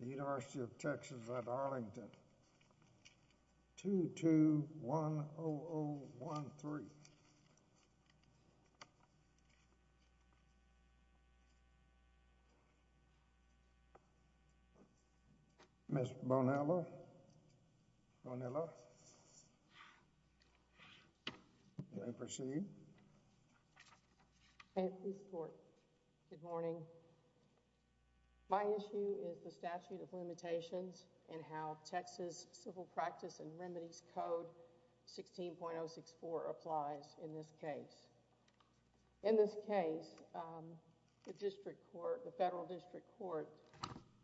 2210013. Ms. Bonella? Bonella? May I proceed? I have no support. Good morning. My name is Ms. Bonella. My issue is the statute of limitations and how Texas Civil Practice and Remedies Code 16.064 applies in this case. In this case, the district court, the federal district court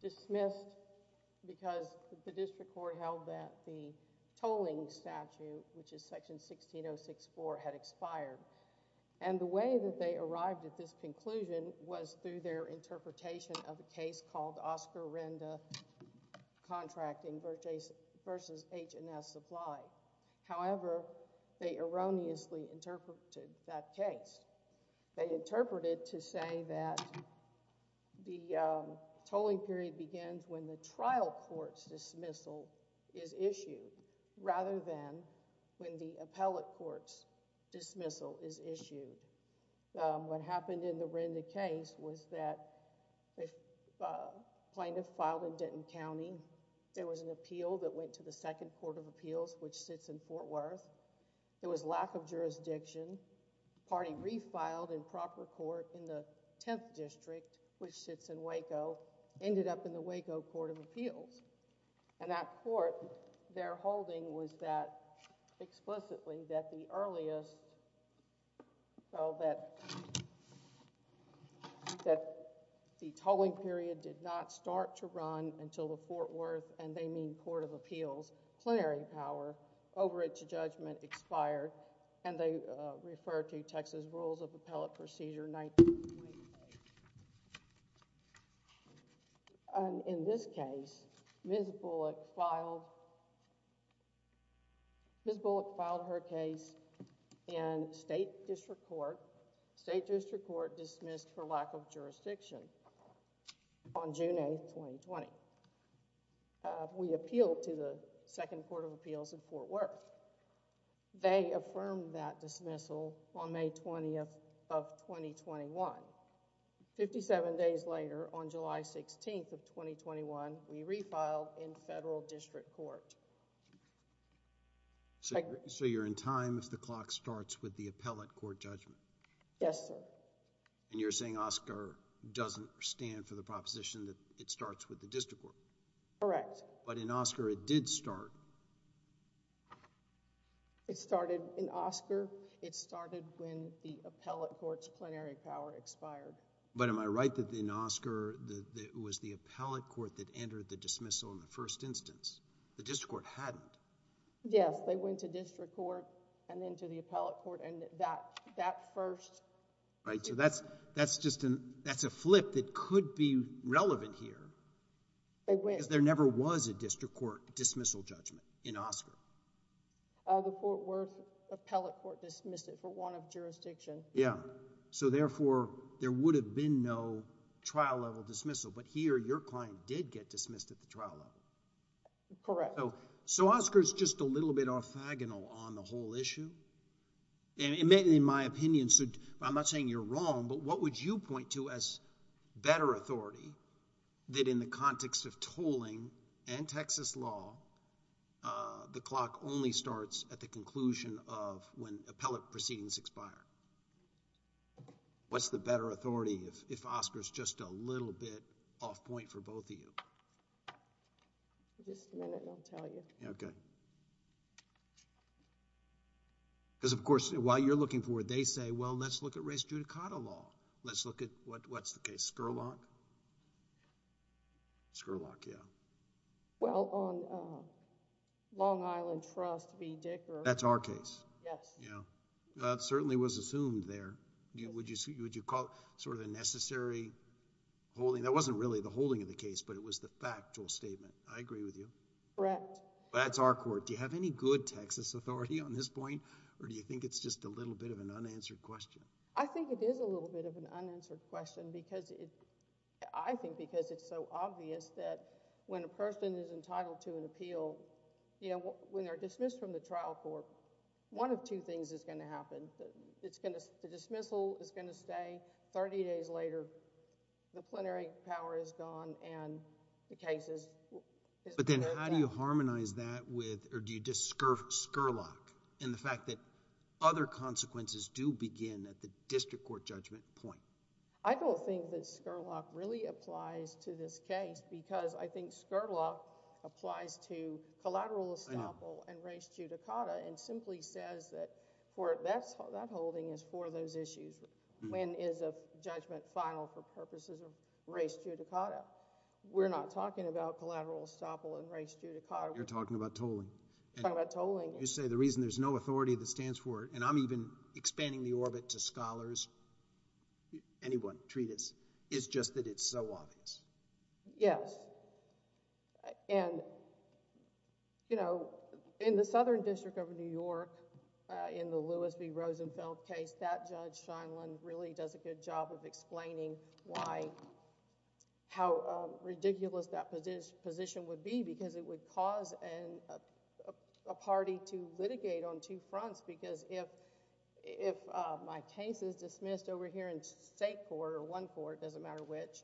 dismissed because the district court held that the tolling statute, which is section 16.064, had expired. And the way that they arrived at this conclusion was through their interpretation of a case called Oscar Renda Contracting v. H&S Supply. However, they erroneously interpreted that case. They interpreted to say that the tolling period begins when the trial court's dismissal is issued rather than when the appellate court's dismissal is issued. What happened in the Renda case was that a plaintiff filed in Denton County. There was an appeal that went to the Second Court of Appeals, which sits in Fort Worth. There was lack of jurisdiction. The party refiled in proper court in the Tenth District, which sits in Waco, ended up in the Waco Court of Appeals. And that court, their holding was that explicitly that the earliest, so that the tolling period did not start to run until the Fort Worth, and they mean Court of Appeals, plenary power over it to judgment expired. And they refer to Texas Rules of Appellate Procedure 1928. In this case, Ms. Bullock filed her case in State District Court. State District Court dismissed her lack of jurisdiction on June 8, 2020. We appealed to the Second Court of Appeals in Fort Worth. They affirmed that dismissal on May 20th of 2021. Fifty-seven days later, on July 16th of 2021, we refiled in Federal District Court. So you're in time if the clock starts with the appellate court judgment? Yes, sir. And you're saying Oscar doesn't stand for the proposition that it starts with the district court? Correct. But in Oscar, it did start. It started in Oscar. It started when the appellate court's plenary power expired. But am I right that in Oscar, it was the appellate court that entered the dismissal in the first instance? The district court hadn't? Yes, they went to district court and then to the appellate court, and that first... Right, so that's just a flip that could be relevant here because there never was a district court dismissal judgment in Oscar. The Fort Worth appellate court dismissed it for want of jurisdiction. Yeah. So, therefore, there would have been no trial-level dismissal, but here, your client did get dismissed at the trial level. Correct. So, Oscar's just a little bit orthogonal on the whole issue, and in my opinion, I'm not saying you're wrong, but what would you point to as better authority that in the context of tolling and Texas law, the clock only starts at the conclusion of when appellate proceedings expire? What's the better authority if Oscar's just a little bit off point for both of you? In just a minute, and I'll tell you. Okay. Because, of course, while you're looking forward, they say, well, let's look at race judicata law. Let's look at, what's the case, Scurlock? Scurlock, yeah. Well, on Long Island Trust v. Dicker... That's our case. Yes. That certainly was assumed there. Would you call it sort of the necessary holding? That wasn't really the holding of the case, but it was the factual statement. I agree with you. Correct. That's our court. Do you have any good Texas authority on this point, or do you think it's just a little bit of an unanswered question? I think it is a little bit of an unanswered question, because I think because it's so obvious that when a person is entitled to an appeal, when they're dismissed from the court, nothing bad things is going to happen. The dismissal is going to stay. Thirty days later, the plenary power is gone, and the case is... But then, how do you harmonize that with, or do you discurve Scurlock in the fact that other consequences do begin at the district court judgment point? I don't think that Scurlock really applies to this case, because I think Scurlock applies to collateral estoppel and res judicata and simply says that that holding is for those issues. When is a judgment final for purposes of res judicata? We're not talking about collateral estoppel and res judicata. You're talking about tolling. Talking about tolling. You say the reason there's no authority that stands for it, and I'm even expanding the orbit to scholars, anyone, treatise, is just that it's so obvious. Yes. And, you know, in the Southern District of New York, in the Louis B. Rosenfeld case, that Judge Scheindlin really does a good job of explaining why... how ridiculous that position would be, because it would cause a party to litigate on two fronts, because if my case is dismissed over here in state court or one court, it doesn't matter which,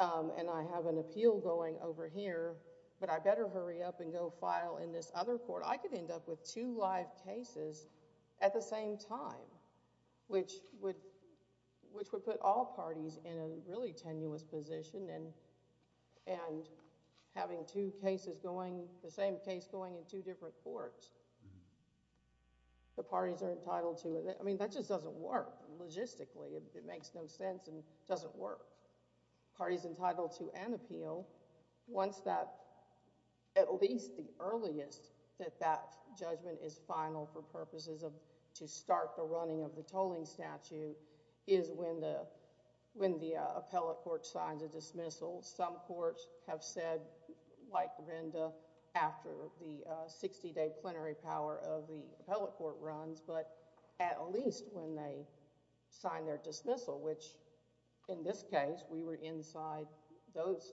and I have an appeal going over here, but I better hurry up and go file in this other court. I could end up with two live cases at the same time, which would put all parties in a really tenuous position and having two cases going, the same case going in two different courts. The parties are entitled to... I mean, that just doesn't work logistically. It makes no sense and doesn't work. Parties entitled to an appeal, once that... at least the earliest that that judgment is final for purposes of... to start the running of the tolling statute is when the appellate court signs a dismissal. Some courts have said, like Renda, after the 60-day plenary power of the court, dismissal, which in this case, we were inside those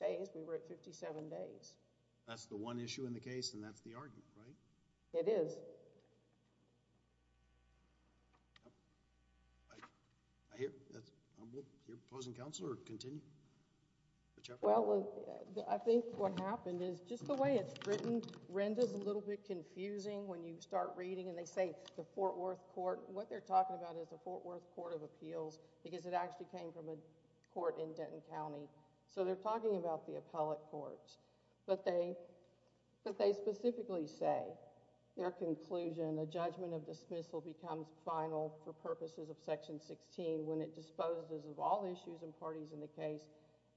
days, we were at fifty-seven days. That's the one issue in the case and that's the argument, right? It is. I hear... I'm here opposing counsel or continue? Well, I think what happened is just the way it's written, Renda's a little bit confusing when you start reading and they say the Fort Worth court. What they're talking about is the Fort Worth Court of Appeals because it actually came from a court in Denton County. So, they're talking about the appellate court, but they specifically say their conclusion, a judgment of dismissal becomes final for purposes of Section 16 when it disposes of all issues and parties in the case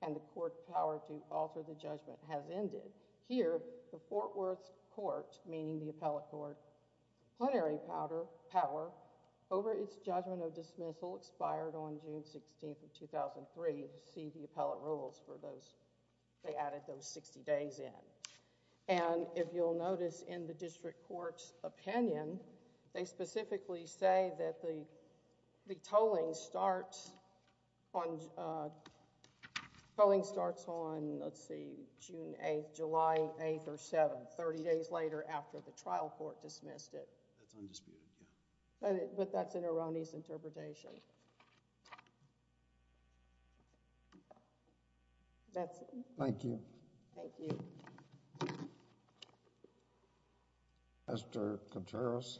and the court power to alter the judgment has ended. Here, the Fort Worth Court, meaning the appellate court, plenary power over its judgment of dismissal expired on June 16th of 2003. See the appellate rules for those. They added those 60 days in. If you'll notice in the district court's opinion, they specifically say that the tolling starts on, let's see, June 8th, July 8th or 7th, 30 days later after the trial court dismissed it. That's undisputed, yeah. But that's an erroneous interpretation. That's it. Thank you. Thank you. Mr. Contreras.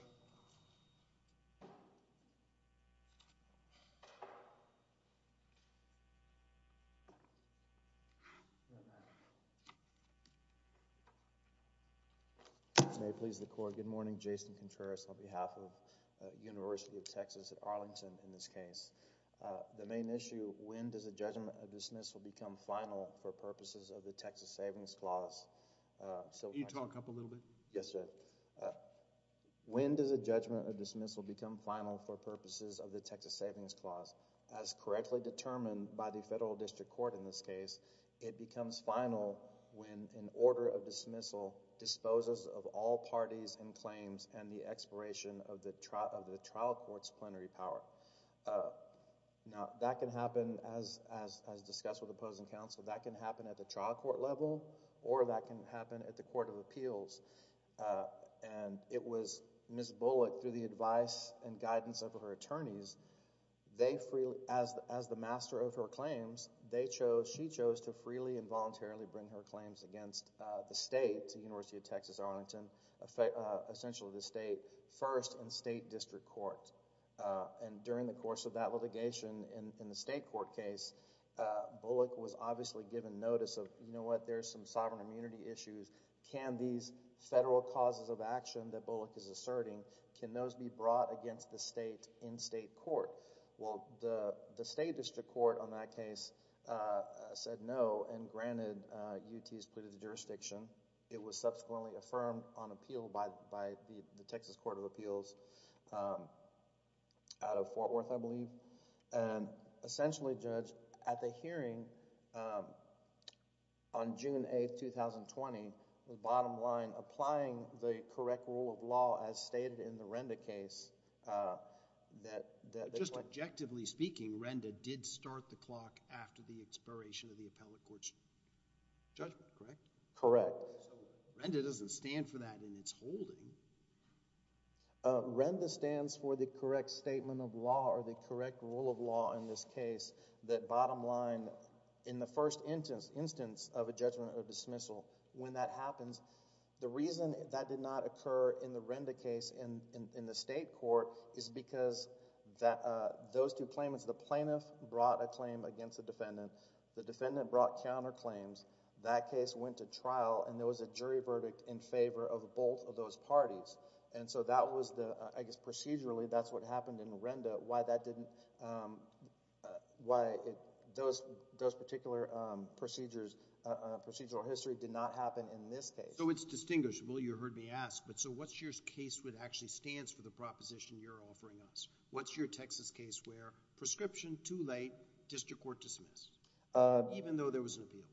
May it please the Court, good morning. Jason Contreras on behalf of the University of Texas at Arlington in this case. The main issue, when does the judgment of dismissal become final for purposes of the Texas Savings Clause? Can you talk up a little bit? Yes, sir. When does the judgment of dismissal become final for purposes of the Texas Savings Clause? As correctly determined by the Federal District Court in this case, it becomes final when an order of dismissal disposes of all parties and claims and the expiration of the trial court's plenary power. Now, that can happen, as discussed with opposing counsel, that can happen at the Court of Appeals, and it was Ms. Bullock, through the advice and guidance of her attorneys, as the master of her claims, she chose to freely and voluntarily bring her claims against the state, the University of Texas Arlington, essentially the state, first in state district court. During the course of that litigation in the state court case, Bullock was obviously given notice of, you know what, there's some sovereign immunity issues, can these federal causes of action that Bullock is asserting, can those be brought against the state in state court? Well, the state district court on that case said no, and granted, UT has pleaded the jurisdiction, it was subsequently affirmed on appeal by the Texas Court of Appeals out of Fort Worth, I believe, and essentially judged at the hearing on June 8th, 2020, the bottom line, applying the correct rule of law as stated in the RENDA case that... Just objectively speaking, RENDA did start the clock after the expiration of the appellate court's judgment, correct? Correct. RENDA doesn't stand for that in its holding. RENDA stands for the correct statement of law or the correct rule of law in this case that bottom line, in the first instance of a judgment or dismissal, when that happens, the reason that did not occur in the RENDA case in the state court is because those two claimants, the plaintiff brought a claim against the defendant, the defendant brought counterclaims, that case went to trial and there was a jury verdict in favor of both of those parties, and so that was, I guess procedurally, that's what happened in those particular procedures, procedural history did not happen in this case. So it's distinguishable, you heard me ask, but so what's your case with actually stands for the proposition you're offering us? What's your Texas case where prescription too late, district court dismissed, even though there was an appeal?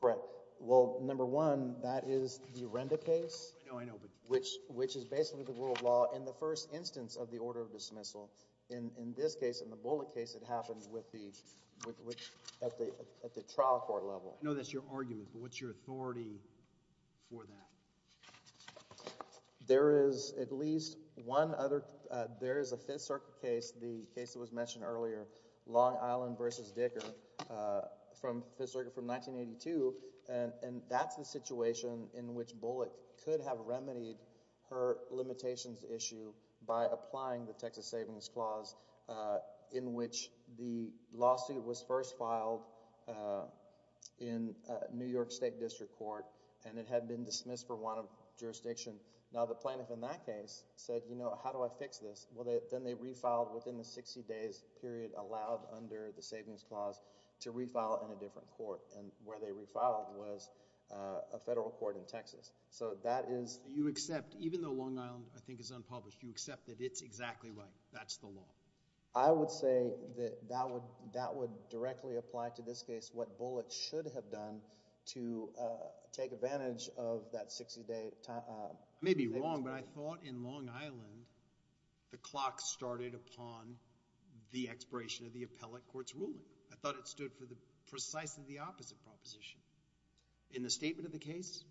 Correct. Well, number one, that is the RENDA case... I know, I know, but... Which is basically the rule of law in the first instance of the order of dismissal. In this case, in the Bullock case, it happened with the... at the trial court level. I know that's your argument, but what's your authority for that? There is at least one other... there is a Fifth Circuit case, the case that was mentioned earlier, Long Island v. Dicker, from Fifth Circuit from 1982, and that's the situation in which Bullock could have remedied her limitations issue by applying the Texas Savings Clause in which the lawsuit was first filed in New York State District Court and it had been dismissed for want of jurisdiction. Now, the plaintiff in that case said, you know, how do I fix this? Well, then they refiled within the sixty days period allowed under the savings clause to refile in a different court, and where they refiled was a federal court in Texas. So that is... You accept, even though Long Island, I think, is unpublished, you accept that it's exactly right. That's the law. I would say that that would directly apply to this case what Bullock should have done to take advantage of that sixty day... I may be wrong, but I thought in Long Island the clock started upon the expiration of the appellate court's ruling. I thought it stood for precisely the opposite proposition. In the statement of the case...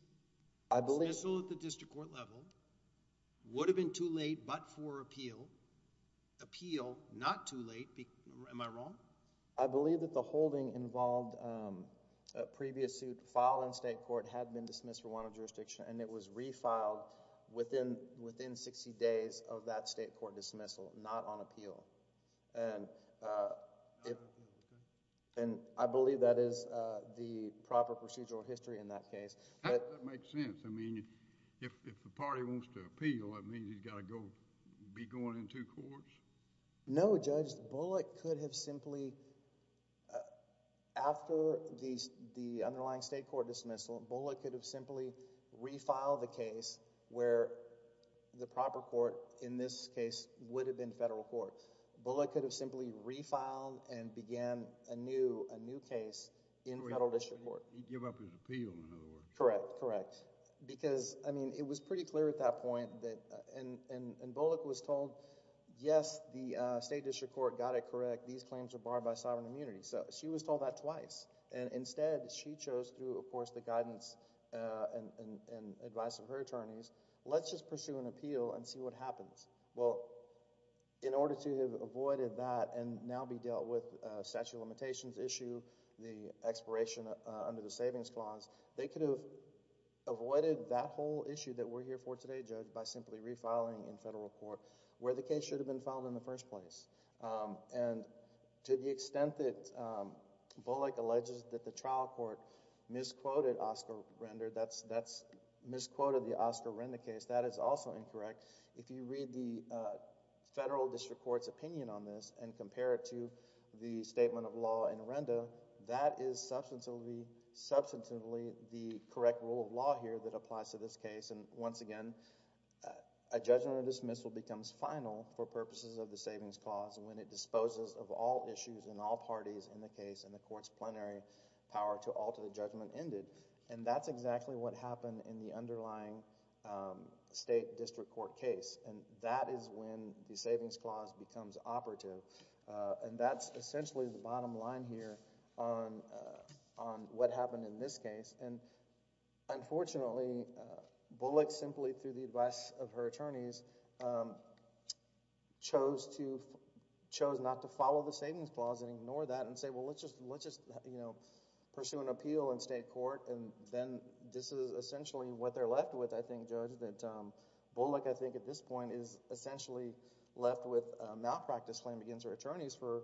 I believe... The dismissal at the district court level would have been too late, but for appeal. Appeal, not too late. Am I wrong? I believe that the holding involved a previous suit filed in state court had been dismissed for want of jurisdiction and it was refiled within sixty days of that state court dismissal, not on appeal. And I believe that is the proper procedural history in that case. That makes sense. I mean, if the party wants to appeal, that means he's got to go... be going in two courts? No, Judge. Bullock could have simply... after the underlying state court dismissal, Bullock could have simply refiled the case where the proper court in this case would have been federal court. Bullock could have simply refiled and began a new case in federal district court. He'd give up his appeal, in other words. Correct. Correct. Because, I mean, it was pretty clear at that point that... and Bullock was told, yes, the state district court got it correct. These claims are barred by sovereign immunity. So, she was told that twice. And instead, she chose through, of course, the guidance and advice of her attorneys, let's just pursue an appeal and see what happens. Well, in order to have avoided that and now be dealt with statute of savings clause, they could have avoided that whole issue that we're here for today, Judge, by simply refiling in federal court where the case should have been filed in the first place. And to the extent that Bullock alleges that the trial court misquoted Oscar Render... misquoted the Oscar Render case, that is also incorrect. If you read the federal district court's opinion on this and compare it to the statement of law in Render, that is substantively the correct rule of law here that applies to this case. And once again, a judgment or dismissal becomes final for purposes of the savings clause when it disposes of all issues and all parties in the case and the court's plenary power to alter the judgment ended. And that's exactly what happened in the underlying state district court case. And that is when the savings clause becomes operative. And that's essentially the bottom line here on what happened in this case. And unfortunately, Bullock simply, through the advice of her attorneys, chose to... chose not to follow the savings clause and ignore that and say, well, let's just, you know, pursue an appeal in state court and then this is essentially what they're left with, I think, Judge, that Bullock, I believe, was left with a malpractice claim against her attorneys for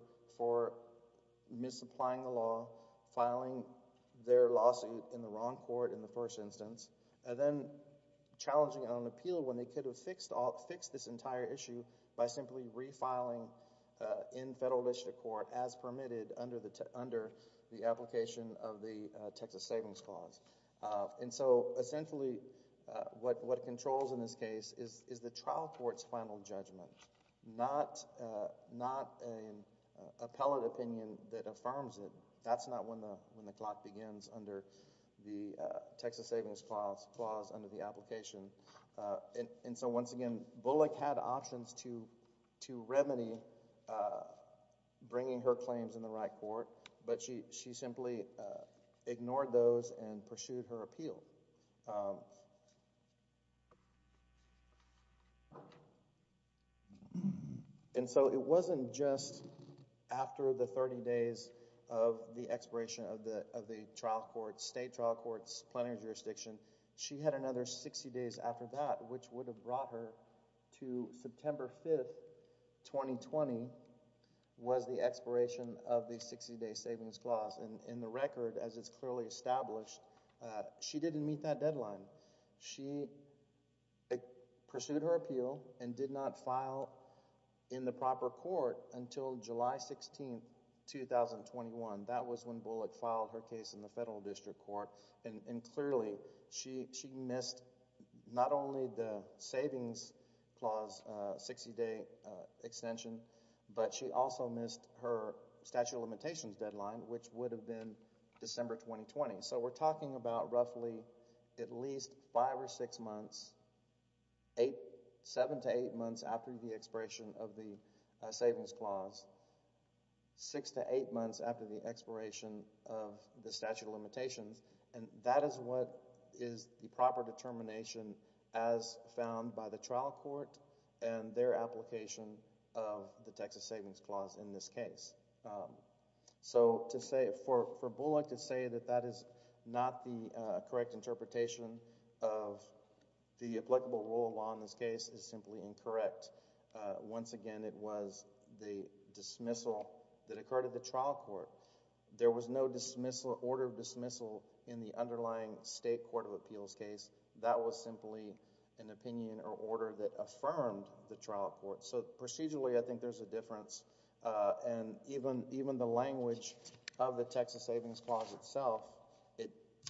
misapplying the law, filing their lawsuit in the wrong court in the first instance, and then challenging it on an appeal when they could have fixed this entire issue by simply refiling in federal district court as permitted under the application of the Texas savings clause. And so essentially what controls in this case is the trial court's final judgment, not an appellate opinion that affirms it. That's not when the clock begins under the Texas savings clause under the application. And so once again, Bullock had options to remedy bringing her claims in the And so it wasn't just after the 30 days of the expiration of the trial court, state trial court's plenary jurisdiction. She had another 60 days after that, which would have brought her to September 5th, 2020, was the expiration of the 60-day savings clause. And in the record, as it's clearly established, she didn't meet that deadline. She pursued her appeal and did not file in the proper court until July 16th, 2021. That was when Bullock filed her case in the federal district court. And clearly, she missed not only the savings clause 60-day extension, but she also missed her statute of limitations deadline, which would have been December 2020. So we're talking about roughly at least five or six months, seven to eight months after the expiration of the savings clause, six to eight months after the expiration of the statute of limitations. And that is what is the proper determination as found by the trial court and their application of the Texas savings clause in this case. So to say, for Bullock to say that that is not the correct interpretation of the applicable rule of law in this case is simply incorrect. Once again, it was the dismissal that occurred at the trial court. There was no order of dismissal in the underlying state court of appeals case. That was simply an opinion or order that affirmed the trial court. So procedurally, I think there's a difference. And even the language of the Texas savings clause itself,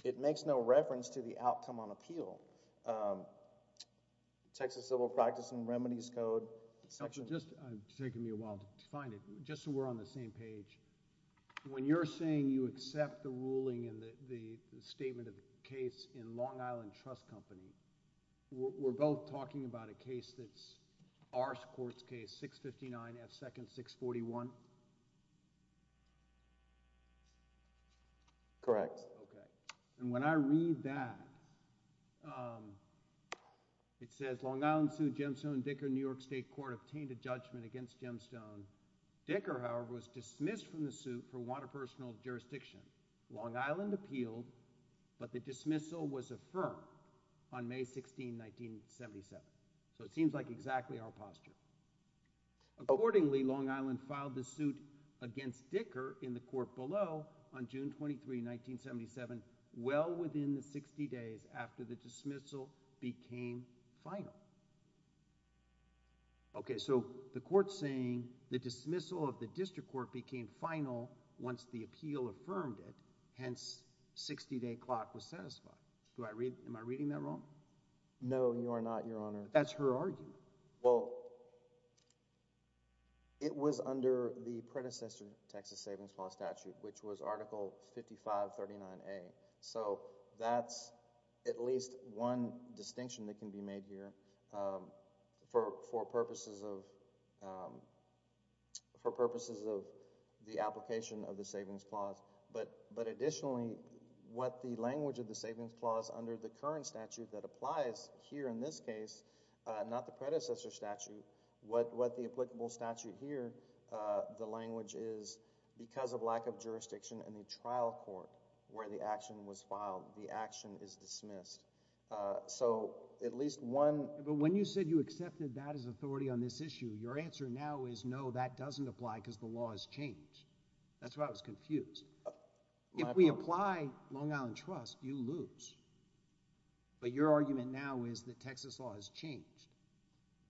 it makes no reference to the outcome on appeal. Texas Civil Practice and Remedies Code section... It's taking me a while to find it. Just so we're on the same page, when you're saying you accept the ruling and the statement of the case in Long Island Trust Company, we're both talking about a case that's our court's case, 659 F. 2nd, 641? Correct. Okay. And when I read that, it says, Long Island suit, Gemstone, Dicker, New York State Court obtained a judgment against Gemstone. Dicker, however, was dismissed from the suit for water personal jurisdiction. Long Island appealed, but the dismissal was affirmed on May 16, 1977. So it seems like exactly our posture. Accordingly, Long Island filed the suit against Dicker in the court below on June 23, 1977, well within the 60 days after the dismissal became final. Okay, so the court's saying the dismissal of the district court became final once the appeal affirmed it, hence 60-day clock was satisfied. Am I reading that wrong? No, you are not, Your Honor. That's her argument. Well, it was under the predecessor Texas Savings Clause statute, which was Article 5539A. So that's at least one distinction that can be made here for purposes of the application of the Savings Clause. But additionally, what the language of the Savings Clause under the current statute that applies here in this case, not the predecessor statute, what the applicable statute here, the language is, because of lack of jurisdiction in the trial court where the action was filed, the action is dismissed. So at least one— But when you said you accepted that as authority on this issue, your answer now is no, that doesn't apply because the law has changed. That's why I was confused. If we apply Long Island Trust, you lose. But your argument now is the Texas law has changed.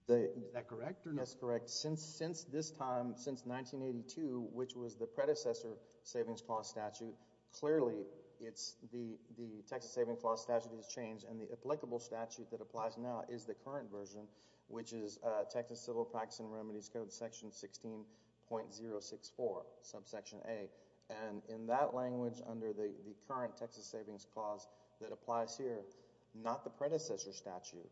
Is that correct or no? That's correct. Since this time, since 1982, which was the predecessor Savings Clause statute, clearly it's the Texas Savings Clause statute has changed, and the applicable statute that applies now is the current version, which is Texas Civil Practice and Remedies Code Section 16.064, subsection A. And in that language, under the current Texas Savings Clause that applies here, not the predecessor statute.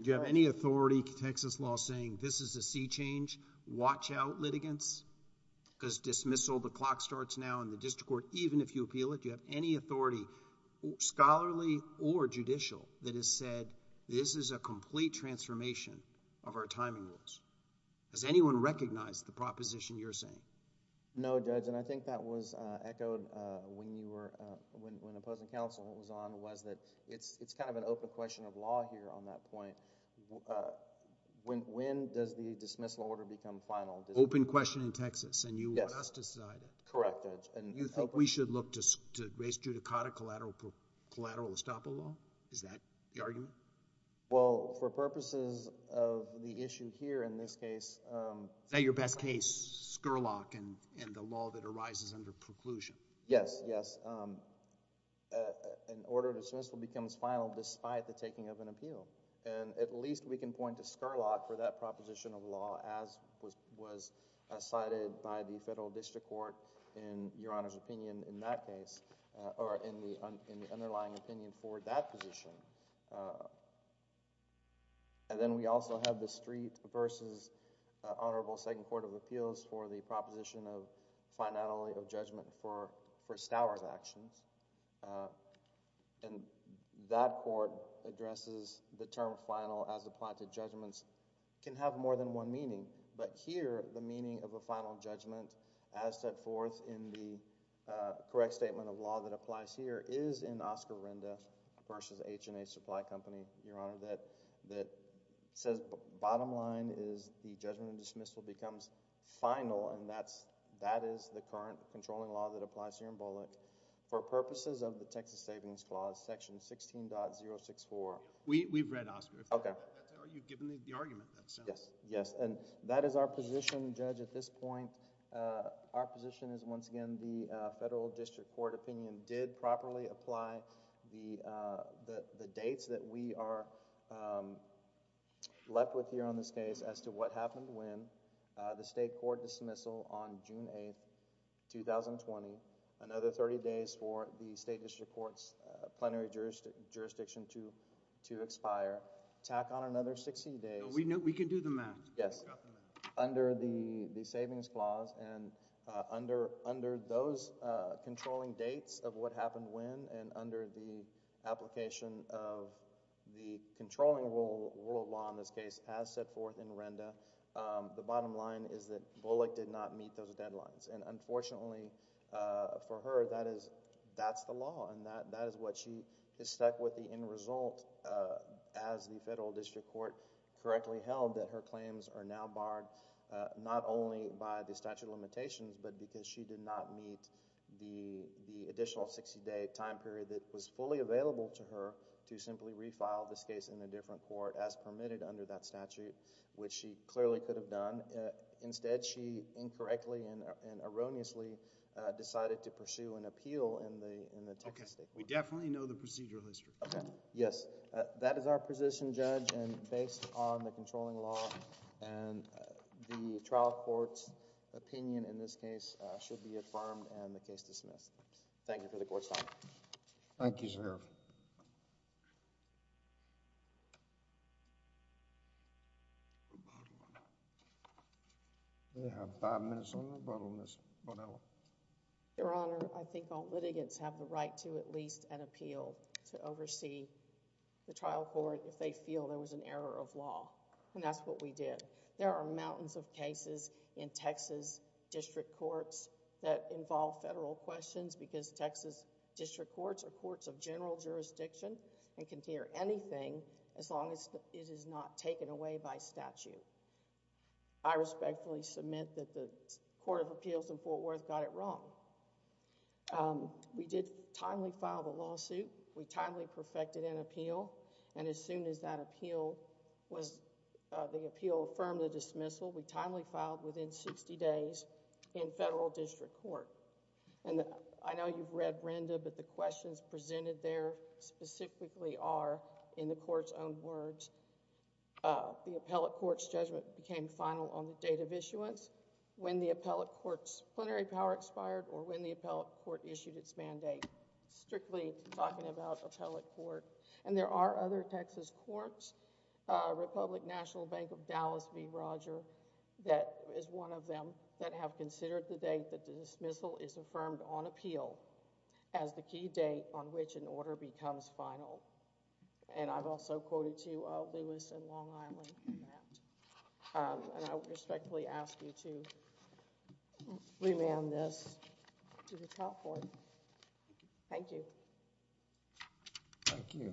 Do you have any authority, Texas law, saying this is a sea change? Watch out, litigants. Because dismissal, the clock starts now in the district court, even if you appeal it. Do you have any authority, scholarly or judicial, that has said this is a complete transformation of our timing rules? Does anyone recognize the proposition you're saying? No, Judge, and I think that was echoed when you were, when the opposing counsel was on, was that it's kind of an open question of law here on that point. When does the dismissal order become final? Open question in Texas, and you will have to decide it. Yes. Correct, Judge. Do you think we should look to raise judicata collateral estoppel law? Is that the argument? Well, for purposes of the issue here in this case... Is that your best case, Scurlock and the law that arises under preclusion? Yes. Yes. An order to dismissal becomes final despite the taking of an appeal. And at least we can point to Scurlock for that proposition of law as was cited by the Federal District Court in Your Honor's opinion in that case, or in the underlying opinion for that position. And then we also have the Street v. Honorable Second Court of Appeals for the proposition of finality of judgment for Stowers' actions. And that court addresses the term final as the planted judgments can have more than one meaning. But here, the meaning of a final judgment as set forth in the correct statement of law that applies here is in Oscar Renda v. H&A Supply Company, Your Honor, that says bottom line is the judgment of dismissal becomes final, and that is the current controlling law that applies here in Bullock. For purposes of the Texas Savings Clause, Section 16.064... We've read Oscar. Okay. Are you giving the argument that sounds... Yes. Yes. And that is our position, Judge, at this point. Our position is, once again, the Federal District Court opinion did properly apply the dates that we are left with here on this case as to what happened when the state court dismissal on June 8, 2020, another thirty days for the... We can do the math. Yes. Under the Savings Clause and under those controlling dates of what happened when and under the application of the controlling rule of law in this case as set forth in Renda, the bottom line is that Bullock did not meet those deadlines. And unfortunately for her, that's the law and that is what she is stuck with the end result as the Federal District Court correctly held that her claims are now barred, not only by the statute of limitations but because she did not meet the additional sixty day time period that was fully available to her to simply refile this case in a different court as permitted under that statute, which she clearly could have done. Instead, she incorrectly and erroneously decided to pursue an appeal in the Texas State Court. We definitely know the procedural history. Okay. Yes. That is our position, Judge. And based on the controlling law and the trial court's opinion in this case should be affirmed and the case dismissed. Thank you for the court's time. Thank you, sir. We have five minutes on rebuttal, Ms. Bonilla. Your Honor, I think all litigants have the right to at least an appeal to oversee the trial court if they feel there was an error of law and that's what we did. There are mountains of cases in Texas district courts that involve federal questions because Texas district courts are courts of general jurisdiction and can hear anything as long as it is not taken away by statute. I respectfully submit that the Court of Appeals in Fort Worth got it wrong. We did timely file the lawsuit. We timely perfected an appeal and as soon as that appeal was... the appeal affirmed the dismissal, we timely filed within sixty days in federal district court. I know you've read Brenda, but the questions presented there specifically are in the court's own words. The appellate court's judgment became final on the date of issuance, when the appellate court's plenary power expired or when the appellate court issued its mandate. Strictly talking about appellate court and there are other Texas courts, Republic National Bank of Dallas v. Roger that is one of them that have considered the date that the dismissal is affirmed on appeal as the key date on which an order becomes final. I've also quoted to you Lewis in Long Island. I respectfully ask you to remand this to the top court. Thank you. Thank you.